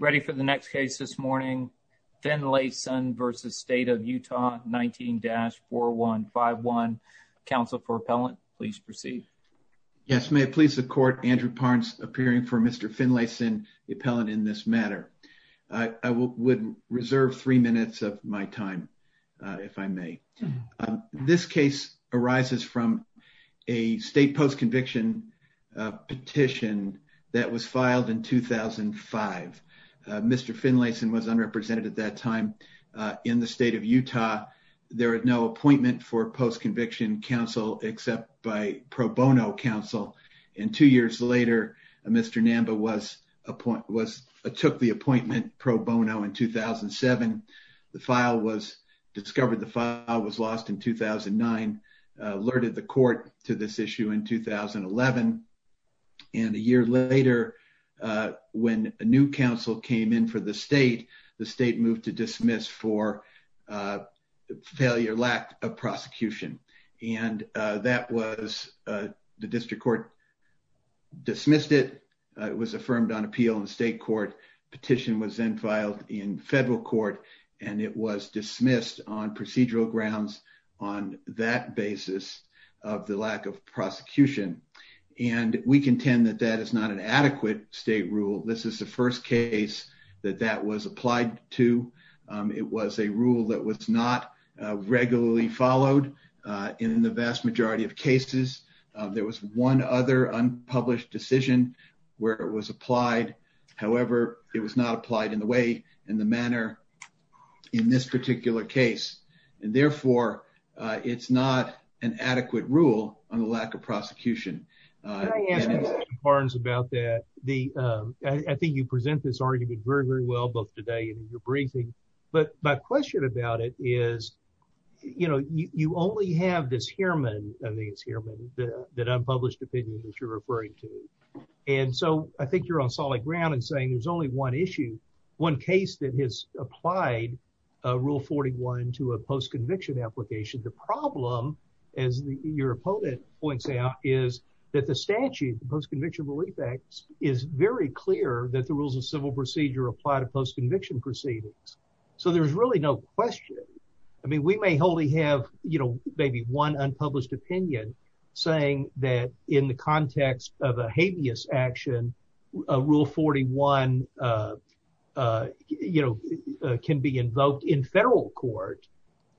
Ready for the next case this morning, Finlayson v. State of Utah, 19-4151. Counsel for appellant, please proceed. Yes, may it please the court, Andrew Parnes appearing for Mr. Finlayson, the appellant in this matter. I would reserve three minutes of my time, if I may. This case arises from a state post-conviction petition that was filed in 2005. Mr. Finlayson was unrepresented at that time in the state of Utah. There was no appointment for post-conviction counsel except by pro bono counsel. And two years later, Mr. Namba took the appointment pro bono in 2007. The file was discovered, the file was lost in 2009, alerted the court to this issue in 2011. And a year later, when a new counsel came in for the state, the state moved to dismiss for failure, lack of prosecution. And that was the district court dismissed it. It was affirmed on appeal in the state court petition was then filed in federal court, and it was dismissed on procedural grounds on that basis of the lack of prosecution. And we contend that that is not an adequate state rule. This is the first case that that was applied to. It was a rule that was not regularly followed in the vast majority of cases. There was one other unpublished decision where it was applied. However, it was not applied in the way in the manner in this particular case. And therefore, it's not an adequate rule on the lack of prosecution. Barnes about that. The I think you present this argument very, very well both today and in your briefing. But my question about it is, you know, you only have this hereman and these heremen that unpublished opinion that you're referring to. And so I think you're on solid ground and saying there's only one issue, one case that has applied rule 41 to a post conviction application. The problem, as your opponent points out, is that the statute, the Post-Conviction Relief Act, is very clear that the rules of civil procedure apply to post conviction proceedings. So there's really no question. I mean, we may wholly have, you know, maybe one unpublished opinion saying that in the context of a habeas action, rule 41, you know, can be invoked in federal court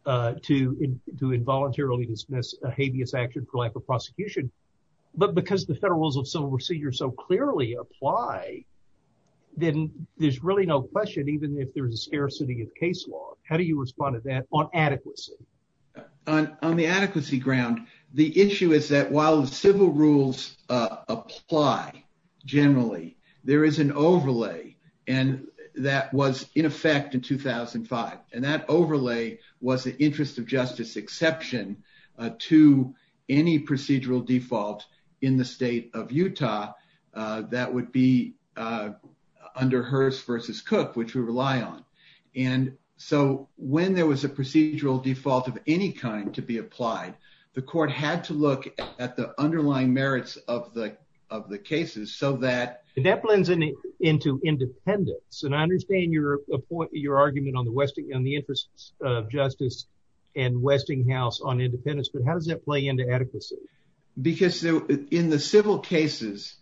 to involuntarily dismiss a habeas action for lack of prosecution. But because the federal rules of civil procedure so clearly apply, then there's really no question, even if there is a scarcity of case law, how do you respond to that on adequacy? On the adequacy ground, the issue is that while the civil rules apply generally, there is an overlay and that was in effect in 2005. And that overlay was the interest of justice exception to any procedural default in the state of Utah. That would be under Hearst versus Cook, which we rely on. And so when there was a procedural default of any kind to be applied, the court had to look at the underlying merits of the of the cases so that that blends into independence. And I understand your point, your argument on the interest of justice and Westinghouse on independence. But how does that play into adequacy? Because in the civil cases,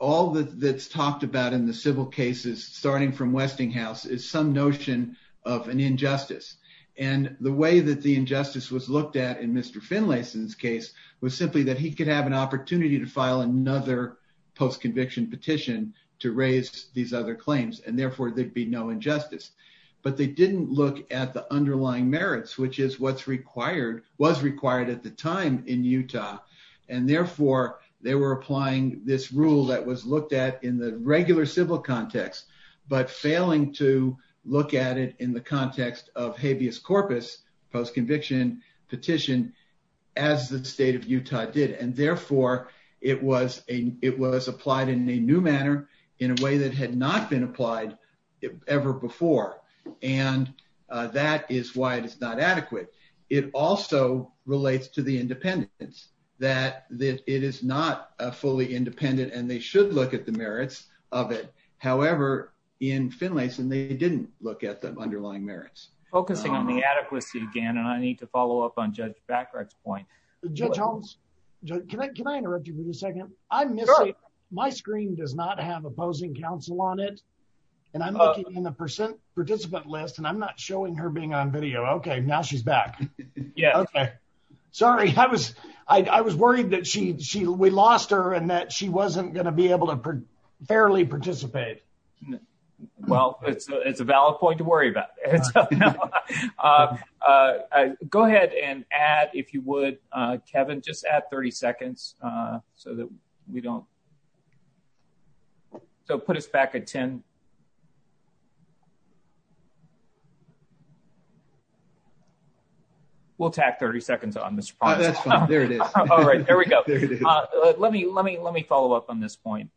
all that's talked about in the civil cases, starting from Westinghouse, is some notion of an injustice. And the way that the injustice was looked at in Mr. Finlayson's case was simply that he could have an opportunity to file another post-conviction petition to raise these other claims and therefore there'd be no injustice. But they didn't look at the underlying merits, which is what's required, was required at the time in Utah. And therefore, they were applying this rule that was looked at in the regular civil context, but failing to look at it in the context of habeas corpus post-conviction petition as the state of Utah did. And therefore, it was a it was applied in a new manner in a way that had not been applied ever before. And that is why it is not adequate. It also relates to the independence that it is not a fully independent and they should look at the merits of it. However, in Finlayson, they didn't look at the underlying merits. Focusing on the adequacy again, and I need to follow up on Judge Backhart's point. Judge Holmes, can I interrupt you for a second? I'm missing. My screen does not have opposing counsel on it. And I'm looking in the percent participant list and I'm not showing her being on video. OK, now she's back. Yeah. Sorry. I was I was worried that she she we lost her and that she wasn't going to be able to fairly participate. Well, it's a valid point to worry about. Go ahead and add, if you would, Kevin, just add 30 seconds so that we don't. So put us back at 10. We'll take 30 seconds on this. There it is. All right. There we go. Let me let me let me follow up on this point.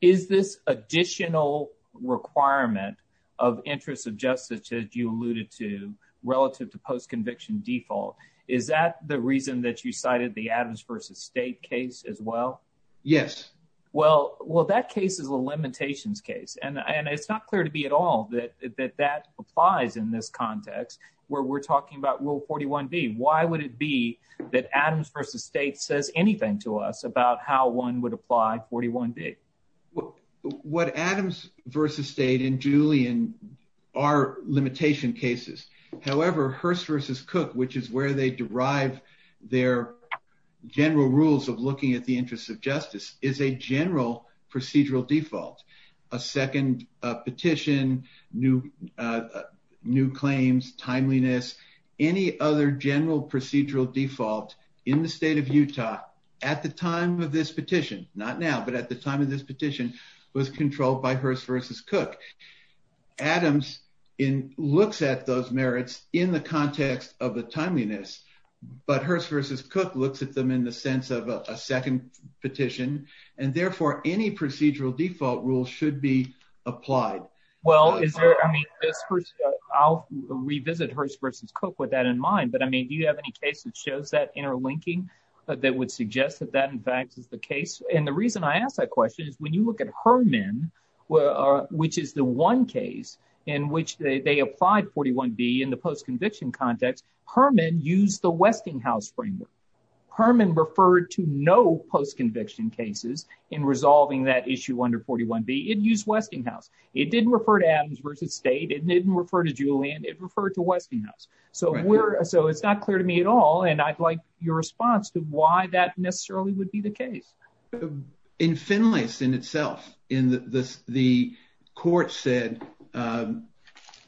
Is this additional requirement of interests of justice that you alluded to relative to post conviction default? Is that the reason that you cited the Adams versus state case as well? Yes. Well, well, that case is a limitations case. And it's not clear to me at all that that applies in this context where we're talking about rule 41B. Why would it be that Adams versus state says anything to us about how one would apply 41B? Well, what Adams versus state and Julian are limitation cases, however, Hearst versus Cook, which is where they derive their general rules of looking at the interests of justice, is a general procedural default. A second petition, new claims, timeliness, any other general procedural default in the state of Utah at the time of this petition. Not now, but at the time of this petition was controlled by Hearst versus Cook. Adams looks at those merits in the context of the timeliness. But Hearst versus Cook looks at them in the sense of a second petition and therefore any procedural default rule should be applied. Well, is there I mean, I'll revisit Hearst versus Cook with that in mind. But I mean, do you have any case that shows that interlinking that would suggest that that, in fact, is the case? And the reason I ask that question is when you look at Herman, which is the one case in which they applied 41B in the post-conviction context, Herman used the Westinghouse framework. Herman referred to no post-conviction cases in resolving that issue under 41B. It used Westinghouse. It didn't refer to Adams versus state. It didn't refer to Julian. It referred to Westinghouse. So we're so it's not clear to me at all. And I'd like your response to why that necessarily would be the case. In Finlay's in itself, in the the court said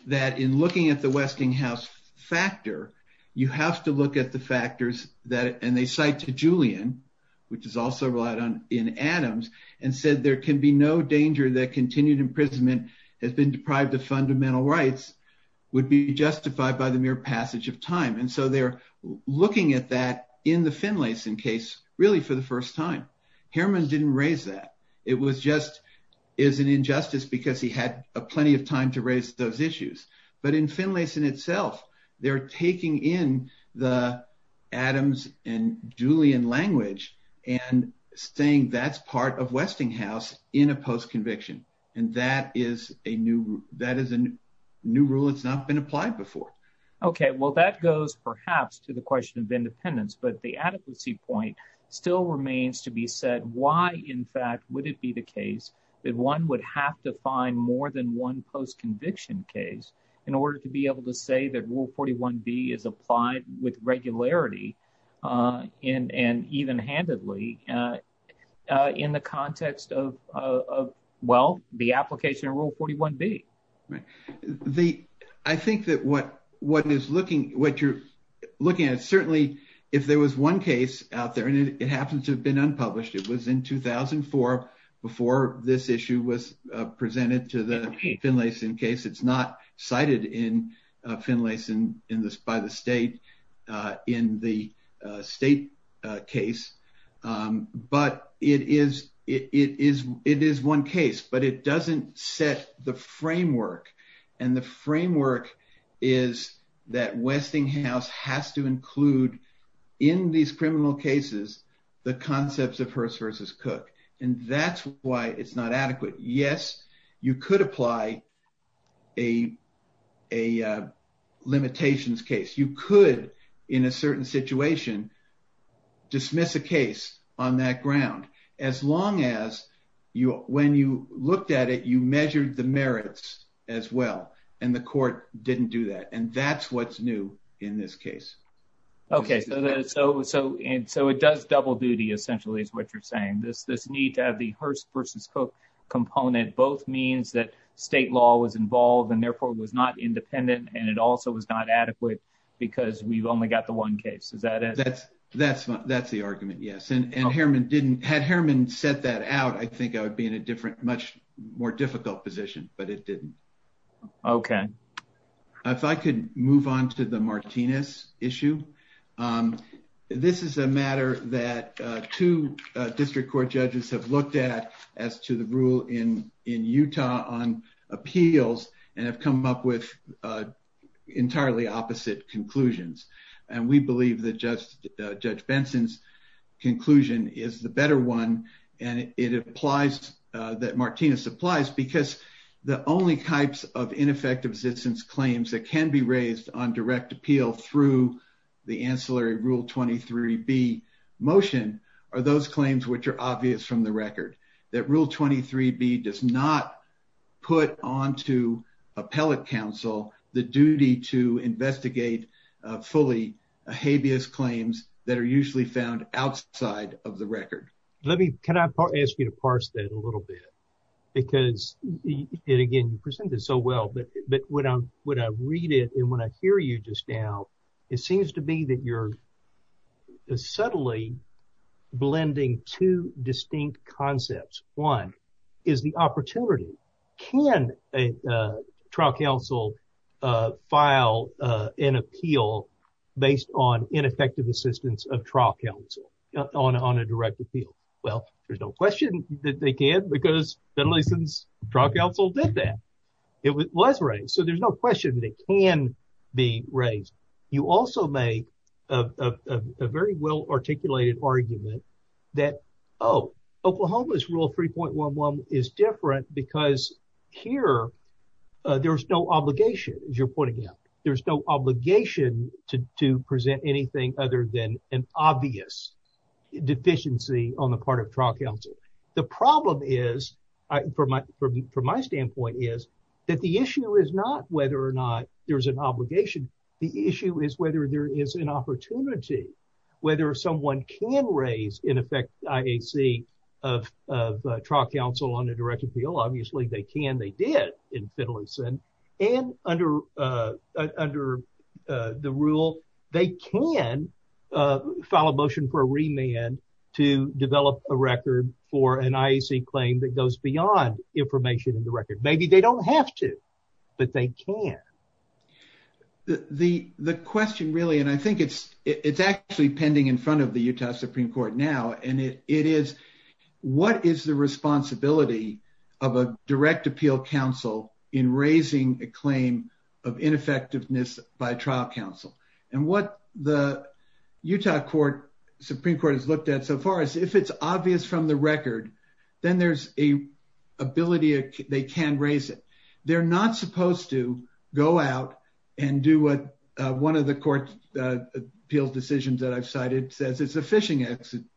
that in looking at the Westinghouse factor, you have to look at the factors that and they cite to Julian, which is also relied on in Adams and said there can be no danger that continued imprisonment has been deprived of fundamental rights would be justified by the mere passage of time. And so they're looking at that in the Finlayson case, really, for the first time. Herman didn't raise that. It was just is an injustice because he had plenty of time to raise those issues. But in Finlayson itself, they're taking in the Adams and Julian language and saying that's part of Westinghouse in a post-conviction. And that is a new that is a new rule. It's not been applied before. OK, well, that goes perhaps to the question of independence, but the adequacy point still remains to be said. Why, in fact, would it be the case that one would have to find more than one post-conviction case in order to be able to say that rule 41 B is applied with regularity in and even handedly in the context of. Well, the application of rule 41 B. I think that what what is looking what you're looking at, certainly if there was one case out there and it happens to have been unpublished, it was in 2004 before this issue was presented to the Finlayson case. It's not cited in Finlayson in this by the state in the state case, but it is it is it is one case, but it doesn't set the framework. And the framework is that Westinghouse has to include in these criminal cases the concepts of Hearst versus Cook. And that's why it's not adequate. Yes, you could apply a a limitations case. You could in a certain situation dismiss a case on that ground as long as you when you looked at it, you measured the merits as well. And the court didn't do that. And that's what's new in this case. OK, so so and so it does double duty essentially is what you're saying. This this need to have the Hearst versus Cook component both means that state law was involved and therefore was not independent. And it also was not adequate because we've only got the one case. Is that it? That's that's that's the argument. Yes. And Herman didn't had Herman set that out. I think I would be in a different, much more difficult position, but it didn't. OK, if I could move on to the Martinez issue. This is a matter that two district court judges have looked at as to the rule in in Utah on appeals and have come up with entirely opposite conclusions. And we believe that just Judge Benson's conclusion is the better one. And it applies that Martinez applies because the only types of ineffective citizens claims that can be raised on direct appeal through the ancillary rule. 23b motion are those claims which are obvious from the record that rule 23b does not put on to appellate counsel the duty to investigate fully habeas claims that are usually found outside of the record. Let me can I ask you to parse that a little bit, because it again presented so well, but when I when I read it and when I hear you just now, it seems to be that you're subtly blending two distinct concepts. One is the opportunity. Can a trial counsel file an appeal based on ineffective assistance of trial counsel on on a direct appeal? Well, there's no question that they can because that listens trial counsel did that. It was right. So there's no question that can be raised. You also make a very well articulated argument that, oh, Oklahoma's rule 3.11 is different because here there's no obligation, as you're pointing out, there's no obligation to present anything other than an obvious deficiency on the part of trial counsel. So the problem is, from my standpoint, is that the issue is not whether or not there's an obligation. The issue is whether there is an opportunity, whether someone can raise in effect IAC of trial counsel on a direct appeal. The question really, and I think it's it's actually pending in front of the Utah Supreme Court now, and it is what is the responsibility of the U.S. Supreme Court to make sure that the U.S. Supreme Court is able to do that? The U.S. Supreme Court is not supposed to go out and do what one of the court's appeals decisions that I've cited says it's a fishing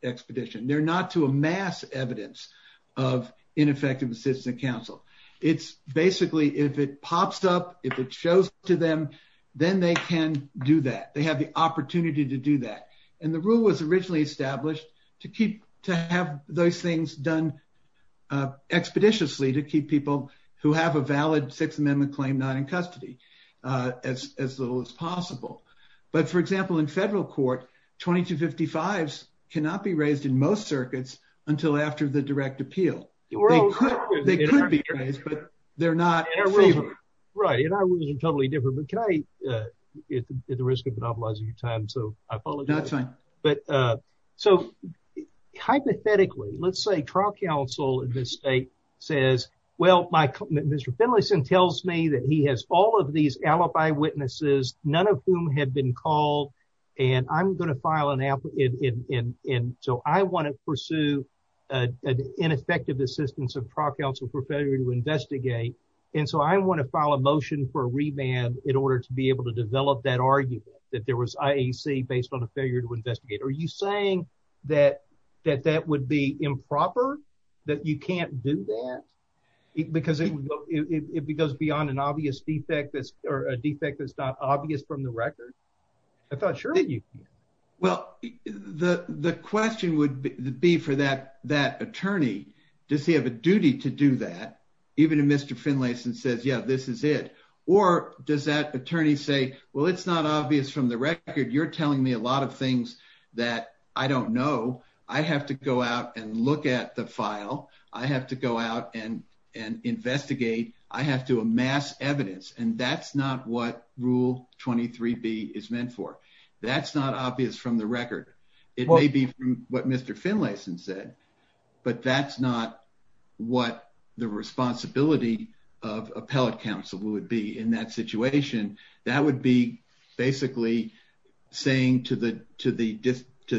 expedition. They're not to amass evidence of ineffective assistance of trial counsel. It's basically if it pops up, if it shows to them, then they can do that. They have the opportunity to do that. And the rule was originally established to keep to have those things done expeditiously to keep people who have a valid Sixth Amendment claim not in custody as little as possible. But for example, in federal court, 2255s cannot be raised in most circuits until after the direct appeal. They could be raised, but they're not. Right. And I wasn't totally different. But can I at the risk of monopolizing your time. So I apologize. But so hypothetically, let's say trial counsel in this state says, well, my Mr. Finlayson tells me that he has all of these alibi witnesses, none of whom have been called. And I'm going to file an app. And so I want to pursue an ineffective assistance of trial counsel for failure to investigate. And so I want to file a motion for a remand in order to be able to develop that argument that there was IAC based on a failure to investigate. Are you saying that that that would be improper that you can't do that because it goes beyond an obvious defect or a defect that's not obvious from the record? Sure. Well, the question would be for that that attorney. Does he have a duty to do that? Even if Mr. Finlayson says, yeah, this is it. Or does that attorney say, well, it's not obvious from the record. You're telling me a lot of things that I don't know. I have to go out and look at the file. I have to go out and and investigate. I have to amass evidence. And that's not what Rule 23B is meant for. That's not obvious from the record. It may be what Mr. Finlayson said, but that's not what the responsibility of appellate counsel would be in that situation. That would be basically saying to the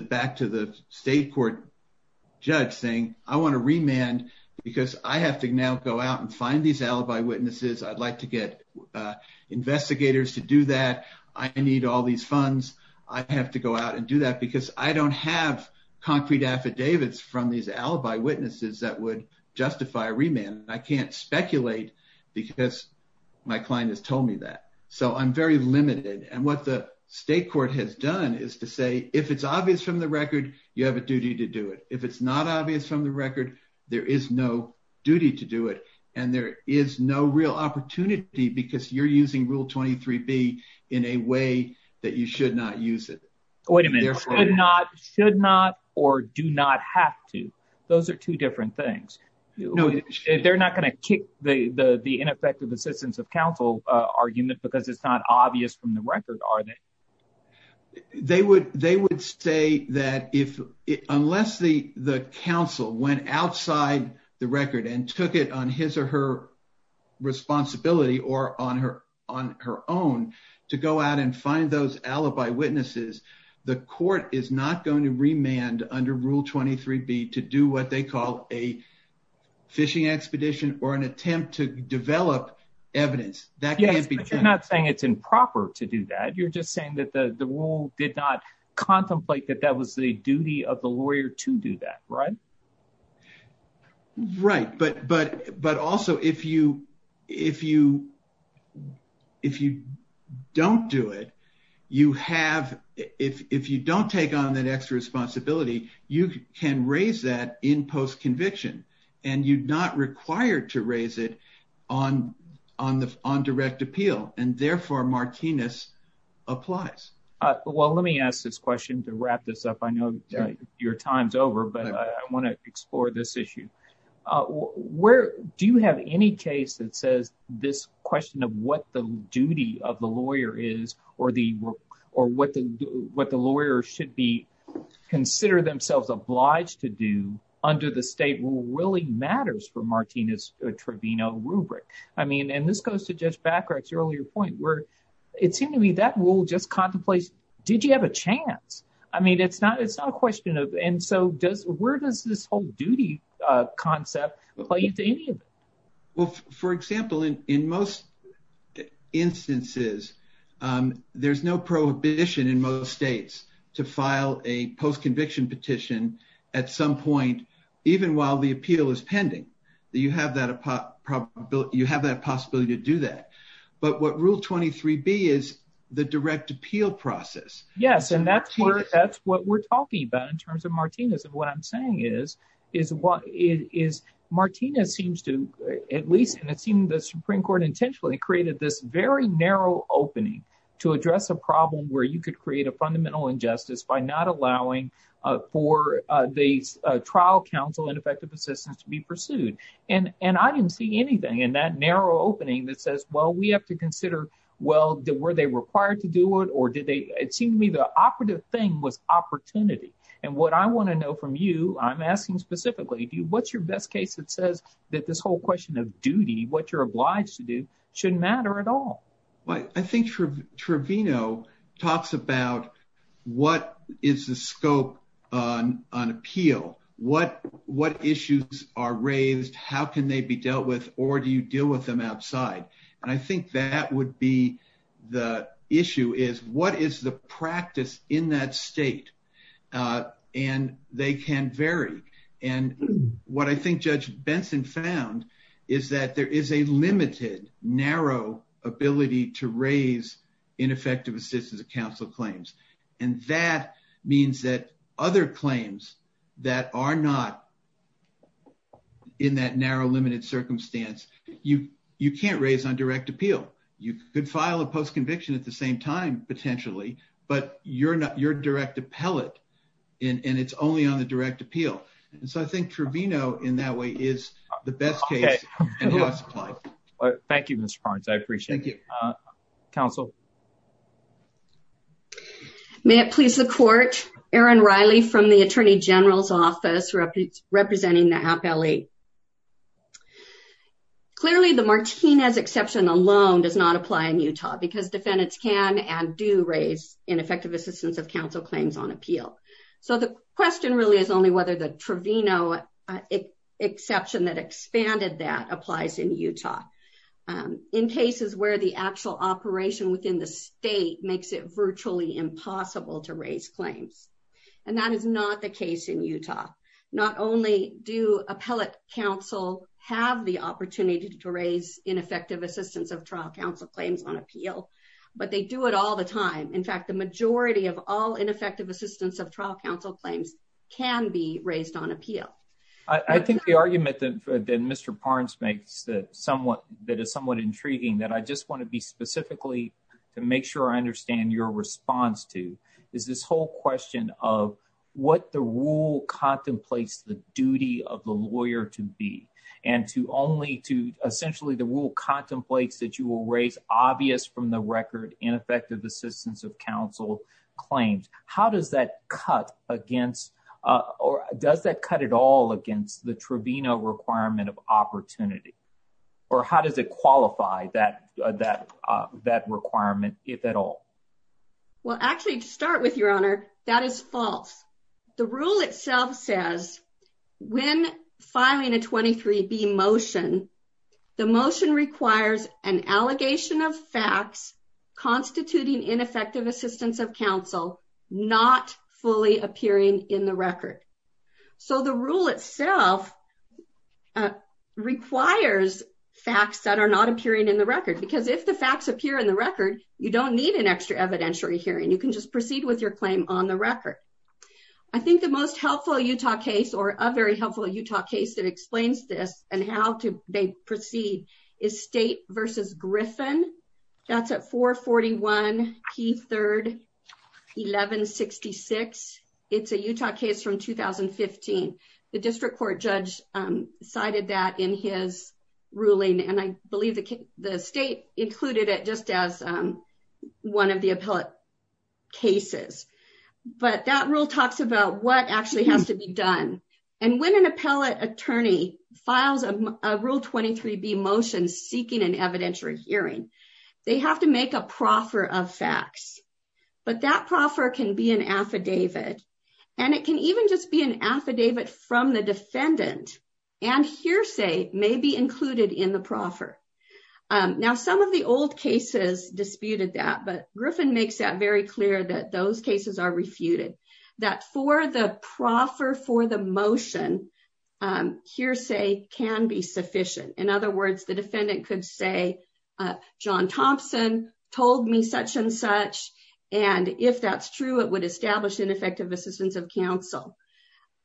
back to the state court judge saying, I want to remand because I have to now go out and find these alibi witnesses. I'd like to get investigators to do that. I need all these funds. I have to go out and do that because I don't have concrete affidavits from these alibi witnesses that would justify a remand. And I can't speculate because my client has told me that. So I'm very limited. And what the state court has done is to say, if it's obvious from the record, you have a duty to do it. If it's not obvious from the record, there is no duty to do it. And there is no real opportunity because you're using Rule 23B in a way that you should not use it. Wait a minute. Should not or do not have to. Those are two different things. They're not going to kick the ineffective assistance of counsel argument because it's not obvious from the record, are they? They would they would say that if unless the the counsel went outside the record and took it on his or her responsibility or on her on her own to go out and find those alibi witnesses, the court is not going to remand under Rule 23B to do what they call a fishing expedition or an attempt to develop evidence. I'm not saying it's improper to do that. You're just saying that the rule did not contemplate that that was the duty of the lawyer to do that. Right. Right. But but but also, if you if you if you don't do it, you have if you don't take on that extra responsibility, you can raise that in post conviction and you're not required to raise it on on the on direct appeal. And therefore, Martinez applies. Well, let me ask this question to wrap this up. I know your time's over, but I want to explore this issue. Where do you have any case that says this question of what the duty of the lawyer is or the or what the what the lawyer should be considered themselves obliged to do under the state rule really matters for Martinez Trevino rubric? I mean, and this goes to just back to your earlier point where it seemed to me that rule just contemplates. Did you have a chance? I mean, it's not it's not a question of. And so does where does this whole duty concept play into any of it? Well, for example, in in most instances, there's no prohibition in most states to file a post conviction petition at some point, even while the appeal is pending. Yes, and that's where that's what we're talking about in terms of Martinez. And what I'm saying is, is what is Martinez seems to at least and it seemed the Supreme Court intentionally created this very narrow opening to address a problem where you could create a fundamental injustice by not allowing for the trial counsel and effective assistance to be pursued. And and I didn't see anything in that narrow opening that says, well, we have to consider. Well, were they required to do it or did they? It seemed to me the operative thing was opportunity. And what I want to know from you, I'm asking specifically, what's your best case that says that this whole question of duty, what you're obliged to do shouldn't matter at all. Well, I think Trevino talks about what is the scope on an appeal, what what issues are raised, how can they be dealt with or do you deal with them outside? And I think that would be the issue is what is the practice in that state? And they can vary. And what I think Judge Benson found is that there is a limited, narrow ability to raise ineffective assistance of counsel claims. And that means that other claims that are not in that narrow, limited circumstance, you you can't raise on direct appeal. You could file a post conviction at the same time, potentially. But you're not your direct appellate. And it's only on the direct appeal. And so I think Trevino in that way is the best case. Thank you, Mr. Barnes, I appreciate it. Thank you, counsel. May it please the court. Aaron Riley from the Attorney General's office representing the appellee. Clearly, the Martinez exception alone does not apply in Utah because defendants can and do raise ineffective assistance of counsel claims on appeal. So the question really is only whether the Trevino exception that expanded that applies in Utah. In cases where the actual operation within the state makes it virtually impossible to raise claims. And that is not the case in Utah. Not only do appellate counsel have the opportunity to raise ineffective assistance of trial counsel claims on appeal, but they do it all the time. In fact, the majority of all ineffective assistance of trial counsel claims can be raised on appeal. I think the argument that Mr. Barnes makes that somewhat that is somewhat intriguing that I just want to be specifically to make sure I understand your response to is this whole question of what the rule contemplates the duty of the lawyer to be. And to only to essentially the rule contemplates that you will raise obvious from the record ineffective assistance of counsel claims. How does that cut against or does that cut it all against the Trevino requirement of opportunity? Or how does it qualify that that that requirement if at all? Well, actually, to start with your honor, that is false. The rule itself says when filing a 23 be motion. The motion requires an allegation of facts constituting ineffective assistance of counsel, not fully appearing in the record. So the rule itself requires facts that are not appearing in the record, because if the facts appear in the record, you don't need an extra evidentiary hearing, you can just proceed with your claim on the record. I think the most helpful Utah case or a very helpful Utah case that explains this and how to proceed is state versus Griffin. That's at 441 Keith third 1166. It's a Utah case from 2015. The district court judge cited that in his ruling and I believe the state included it just as one of the appellate cases. But that rule talks about what actually has to be done. And when an appellate attorney files a rule 23 be motion seeking an evidentiary hearing, they have to make a proffer of facts. But that proffer can be an affidavit. And it can even just be an affidavit from the defendant and hearsay may be included in the proffer. Now, some of the old cases disputed that but Griffin makes that very clear that those cases are refuted that for the proffer for the motion hearsay can be sufficient. In other words, the defendant could say, john Thompson told me such and such. And if that's true, it would establish ineffective assistance of counsel.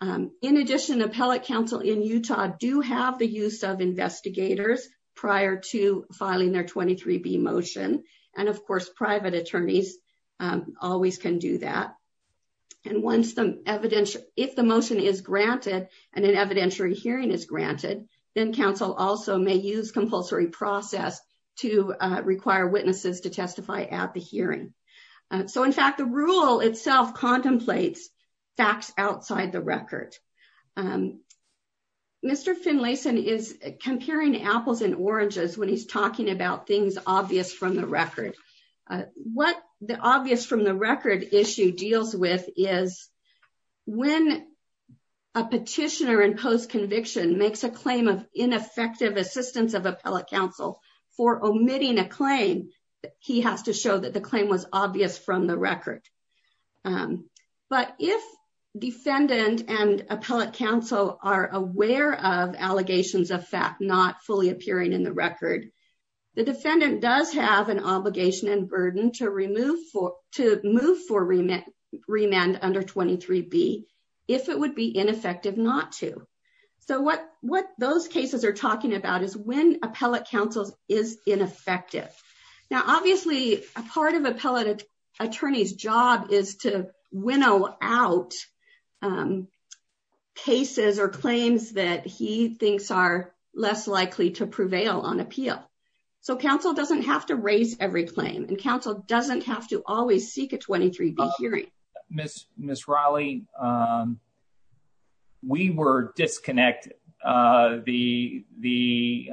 In addition, appellate counsel in Utah do have the use of investigators prior to filing their 23 be motion. And of course, private attorneys always can do that. And once the evidence, if the motion is granted, and an evidentiary hearing is granted, then counsel also may use compulsory process to require witnesses to testify at the hearing. So in fact, the rule itself contemplates facts outside the record. Mr. Finlayson is comparing apples and oranges when he's talking about things obvious from the record. What the obvious from the record issue deals with is when a petitioner and post conviction makes a claim of ineffective assistance of appellate counsel for omitting a claim, he has to show that the claim was obvious from the record. But if defendant and appellate counsel are aware of allegations of fact not fully appearing in the record, the defendant does have an obligation and burden to remove for to move for remit remand under 23 be if it would be ineffective not to. So what what those cases are talking about is when appellate counsel's is ineffective. Now, obviously, a part of appellate attorney's job is to winnow out cases or claims that he thinks are less likely to prevail on appeal. So counsel doesn't have to raise every claim and counsel doesn't have to always seek a 23 be hearing Miss Miss Riley. We were disconnected the the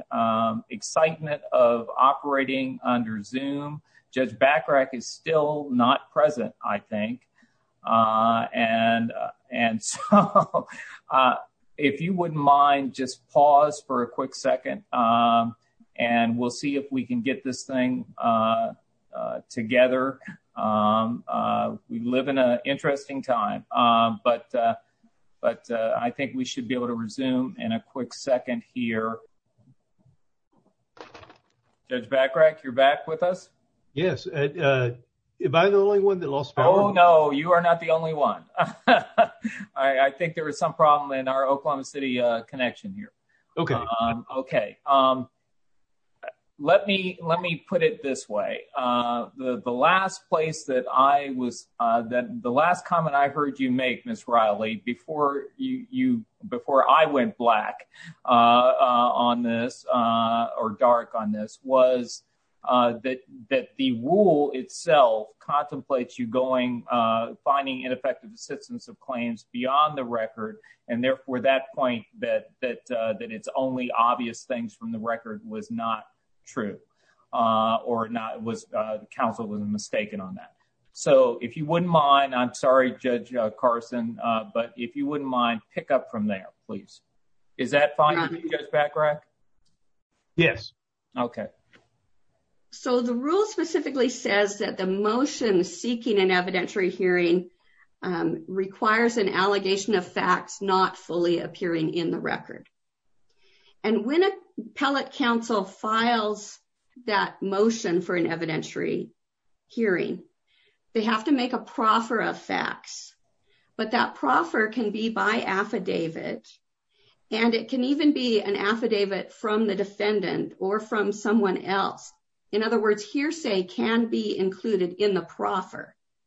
excitement of operating under Zoom. Judge Bacarach is still not present, I think. And and if you wouldn't mind, just pause for a quick second and we'll see if we can get this thing together. We live in an interesting time, but but I think we should be able to resume in a quick second here. Judge Bacarach, you're back with us. Yes. If I'm the only one that lost. Oh, no, you are not the only one. I think there was some problem in our Oklahoma City connection here. Okay. Okay. Um. Let me let me put it this way. The last place that I was that the last comment I heard you make Miss Riley before you before I went black on this or dark on this was that that the rule itself contemplates you going finding ineffective assistance of claims beyond the record. And therefore, that point that that that it's only obvious things from the record was not true or not was counsel was mistaken on that. So if you wouldn't mind, I'm sorry, Judge Carson, but if you wouldn't mind, pick up from there, please. Is that fine? Yes. Okay.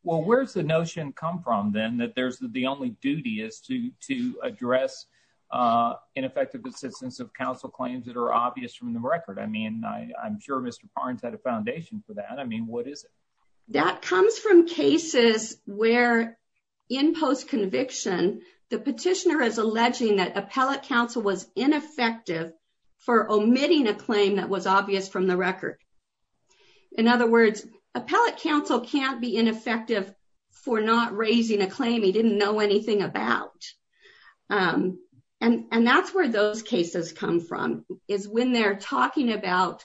Well, where's the notion come from, then that there's the only duty is to to address ineffective assistance of counsel claims that are obvious from the record. I mean, I'm sure Mr. Barnes had a foundation for that. I mean, what is it? That comes from cases where in post conviction, the petitioner is alleging that appellate counsel was ineffective for omitting a claim that was obvious from the record. In other words, appellate counsel can't be ineffective for not raising a claim he didn't know anything about. And that's where those cases come from, is when they're talking about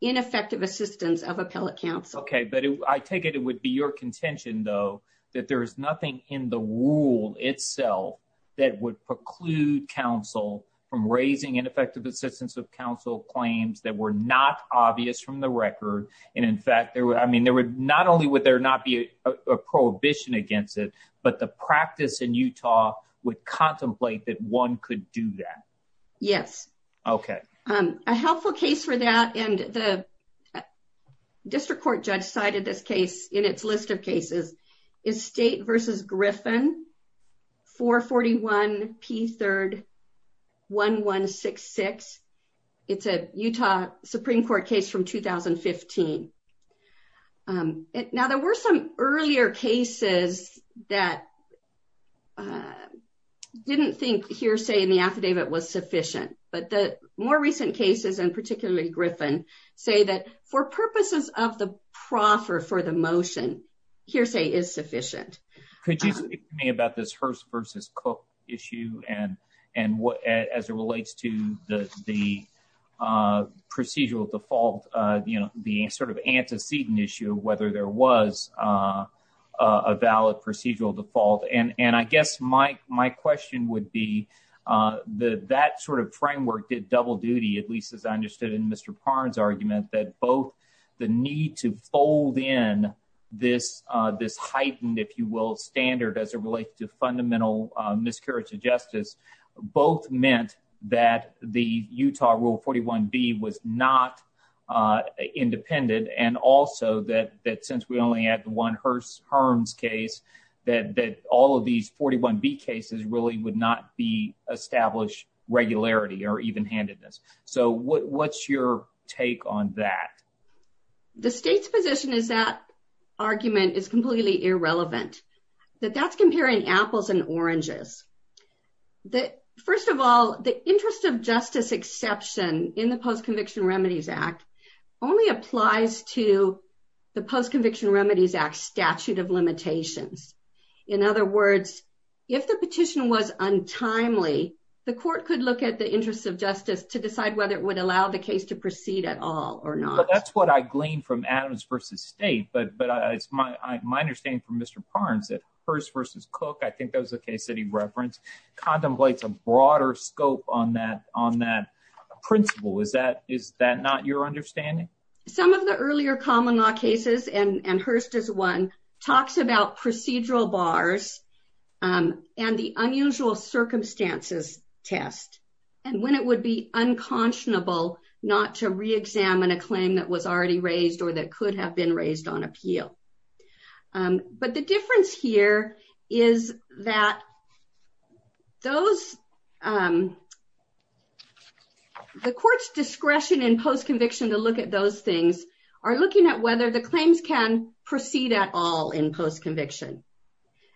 ineffective assistance of appellate counsel. Okay. But I take it it would be your contention, though, that there is nothing in the rule itself that would preclude counsel from raising ineffective assistance of counsel claims that were not obvious from the record. And in fact, I mean, not only would there not be a prohibition against it, but the practice in Utah would contemplate that one could do that. Yes. Okay. A helpful case for that. And the district court judge cited this case in its list of cases is state versus Griffin for 41 P third one one six six. It's a Utah Supreme Court case from 2015. Now, there were some earlier cases that didn't think hearsay in the affidavit was sufficient, but the more recent cases and particularly Griffin say that for purposes of the proffer for the motion hearsay is sufficient. Could you speak to me about this Hearst versus Cook issue and and as it relates to the procedural default, the sort of antecedent issue, whether there was a valid procedural default? And I guess my my question would be that that sort of framework did double duty, at least as I understood in Mr. Barnes argument that both the need to fold in this this heightened, if you will, standard as it relates to fundamental miscarriage of justice. The state's position is that argument is completely irrelevant, that that's comparing apples and oranges. The first of all, the interest of justice exception in the Post Conviction Remedies Act only applies to the Post Conviction Remedies Act statute of limitations. In other words, if the petition was untimely, the court could look at the interests of justice to decide whether it would allow the case to proceed at all or not. Well, that's what I gleaned from Adams versus state. But but it's my my understanding from Mr. Barnes that Hearst versus Cook, I think that was the case that he referenced contemplates a broader scope on that on that principle. Is that is that not your understanding? Some of the earlier common law cases and Hearst is one talks about procedural bars and the unusual circumstances test, and when it would be unconscionable not to reexamine a claim that was already raised or that could have been raised on appeal. But the difference here is that those the court's discretion in post conviction to look at those things are looking at whether the claims can proceed at all in post conviction.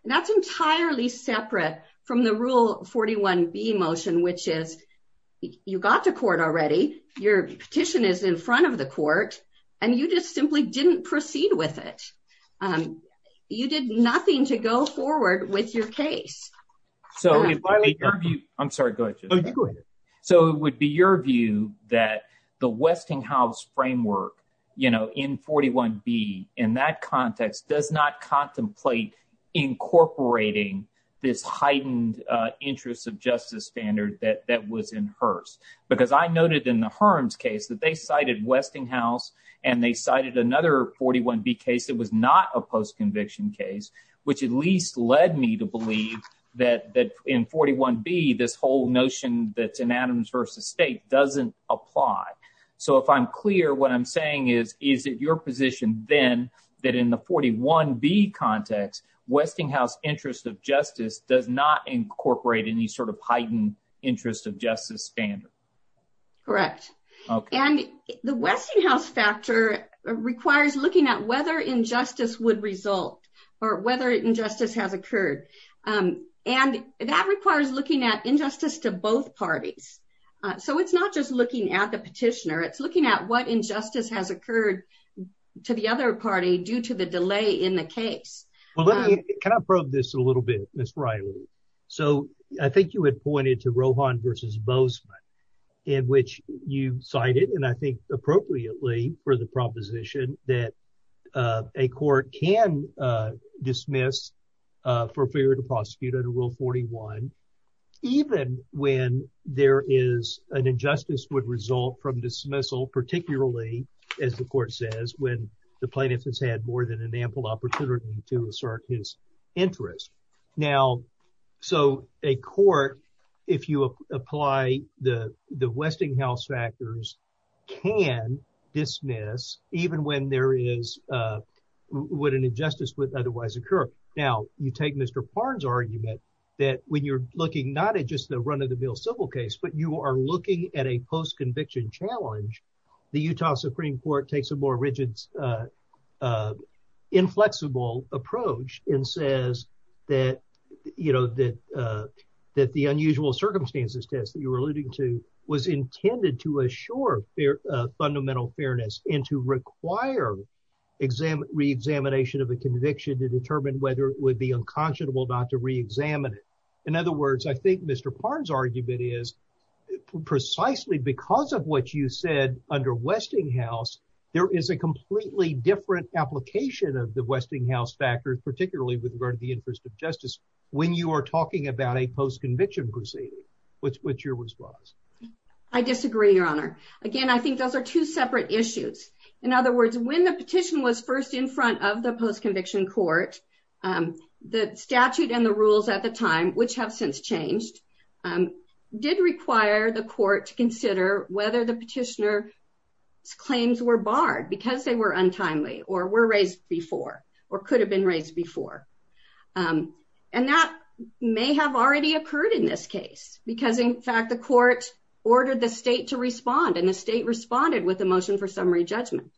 That's entirely separate from the rule 41 B motion, which is you got to court already. Your petition is in front of the court and you just simply didn't proceed with it. You did nothing to go forward with your case. So I'm sorry. So it would be your view that the Westinghouse framework in 41 B in that context does not contemplate incorporating this heightened interest of justice standard that that was in Hearst. Because I noted in the Herms case that they cited Westinghouse and they cited another 41 B case. It was not a post conviction case, which at least led me to believe that that in 41 B, this whole notion that's in Adams versus state doesn't apply. So if I'm clear, what I'm saying is, is it your position then that in the 41 B context, Westinghouse interest of justice does not incorporate any sort of heightened interest of justice standard. Correct. And the Westinghouse factor requires looking at whether injustice would result or whether injustice has occurred. And that requires looking at injustice to both parties. So it's not just looking at the petitioner. It's looking at what injustice has occurred to the other party due to the delay in the case. Can I probe this a little bit, Miss Riley? So I think you had pointed to Rohan versus Bozeman, in which you cited, and I think appropriately for the proposition that a court can dismiss for failure to prosecute under Rule 41. Even when there is an injustice would result from dismissal, particularly as the court says when the plaintiff has had more than an ample opportunity to assert his interest. Now, so a court, if you apply the Westinghouse factors, can dismiss even when there is what an injustice would otherwise occur. Now you take Mr. Parnes argument that when you're looking not at just the run of the mill civil case, but you are looking at a post conviction challenge. The Utah Supreme Court takes a more rigid, inflexible approach and says that the unusual circumstances test that you were alluding to was intended to assure fundamental fairness and to require reexamination of a conviction to determine whether it would be unconscionable not to reexamine it. In other words, I think Mr. Parnes argument is precisely because of what you said under Westinghouse, there is a completely different application of the Westinghouse factors, particularly with regard to the interest of justice, when you are talking about a post conviction proceeding. I disagree, Your Honor. Again, I think those are two separate issues. In other words, when the petition was first in front of the post conviction court, the statute and the rules at the time, which have since changed, did require the court to consider whether the petitioner's claims were barred because they were untimely or were raised before or could have been raised before. And that may have already occurred in this case, because in fact, the court ordered the state to respond and the state responded with a motion for summary judgment.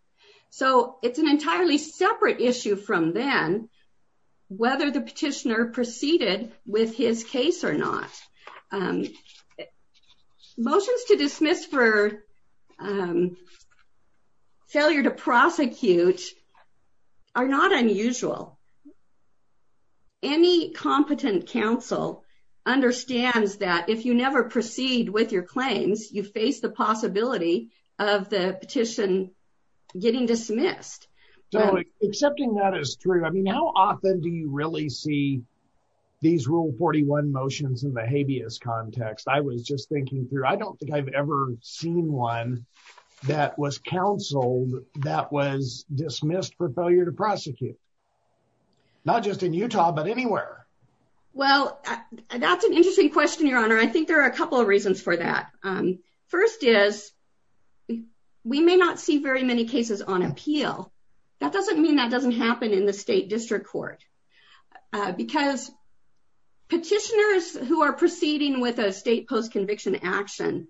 So it's an entirely separate issue from then, whether the petitioner proceeded with his case or not. Motions to dismiss for failure to prosecute are not unusual. Any competent counsel understands that if you never proceed with your claims, you face the possibility of the petition getting dismissed. So accepting that is true. I mean, how often do you really see these Rule 41 motions in the habeas context? I was just thinking through. I don't think I've ever seen one that was counseled that was dismissed for failure to prosecute. Not just in Utah, but anywhere. Well, that's an interesting question, Your Honor. I think there are a couple of reasons for that. First is, we may not see very many cases on appeal. That doesn't mean that doesn't happen in the state district court. Because petitioners who are proceeding with a state post conviction action,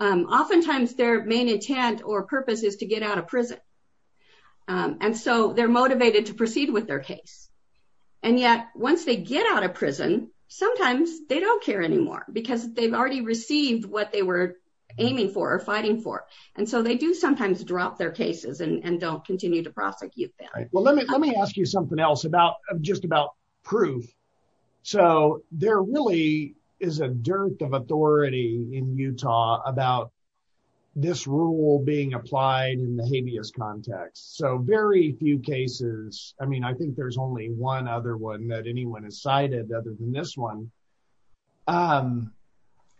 oftentimes their main intent or purpose is to get out of prison. And so they're motivated to proceed with their case. And yet, once they get out of prison, sometimes they don't care anymore because they've already received what they were aiming for or fighting for. And so they do sometimes drop their cases and don't continue to prosecute them. Well, let me let me ask you something else about just about proof. So there really is a dearth of authority in Utah about this rule being applied in the habeas context. So very few cases. I mean, I think there's only one other one that anyone has cited other than this one.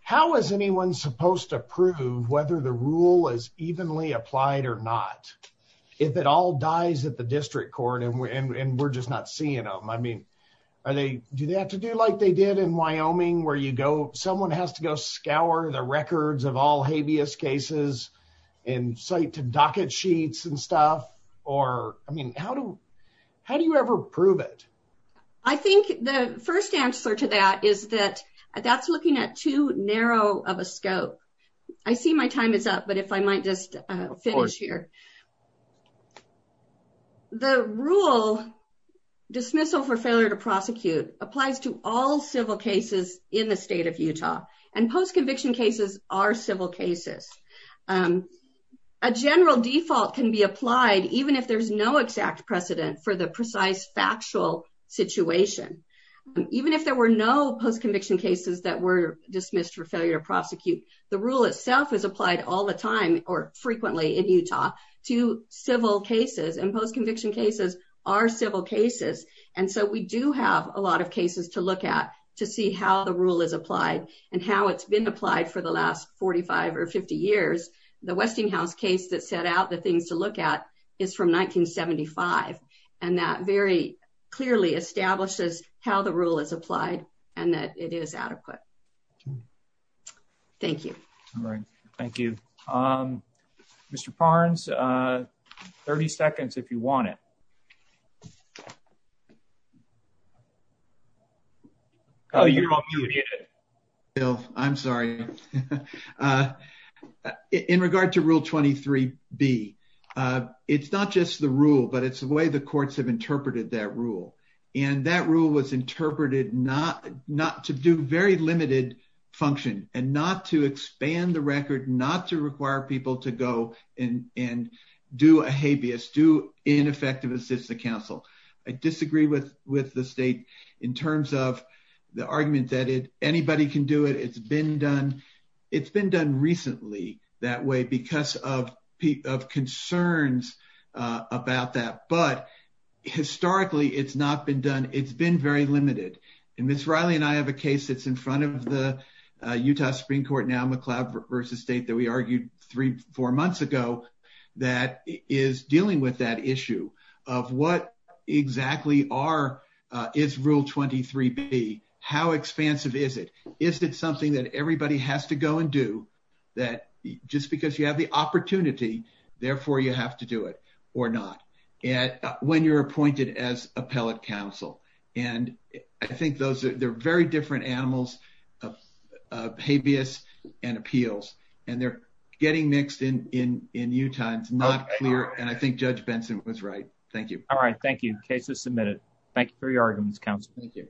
How is anyone supposed to prove whether the rule is evenly applied or not, if it all dies at the district court and we're just not seeing them? I mean, do they have to do like they did in Wyoming, where someone has to go scour the records of all habeas cases and cite to docket sheets and stuff? Or, I mean, how do you ever prove it? I think the first answer to that is that that's looking at too narrow of a scope. I see my time is up, but if I might just finish here. The rule dismissal for failure to prosecute applies to all civil cases in the state of Utah and post-conviction cases are civil cases. A general default can be applied even if there's no exact precedent for the precise factual situation, even if there were no post-conviction cases that were dismissed for failure to prosecute. The rule itself is applied all the time or frequently in Utah to civil cases and post-conviction cases are civil cases. And so we do have a lot of cases to look at to see how the rule is applied and how it's been applied for the last 45 or 50 years. The Westinghouse case that set out the things to look at is from 1975, and that very clearly establishes how the rule is applied and that it is adequate. Thank you. All right. Thank you. Mr. Parnes, 30 seconds if you want it. Bill, I'm sorry. In regard to Rule 23B, it's not just the rule, but it's the way the courts have interpreted that rule. And that rule was interpreted not to do very limited function and not to expand the record, not to require people to go and do a habeas, do ineffective assist the counsel. I disagree with the state in terms of the argument that anybody can do it. It's been done. It's been done recently that way because of concerns about that. But historically, it's not been done. It's been very limited. And Ms. Riley and I have a case that's in front of the Utah Supreme Court now, McLeod v. State, that we argued three, four months ago that is dealing with that issue of what exactly are, is Rule 23B, how expansive is it? Is it something that everybody has to go and do that just because you have the opportunity, therefore, you have to do it or not when you're appointed as appellate counsel? And I think those are very different animals of habeas and appeals, and they're getting mixed in Utah. It's not clear. And I think Judge Benson was right. Thank you. All right. Thank you. Case is submitted. Thank you for your arguments, counsel. Thank you.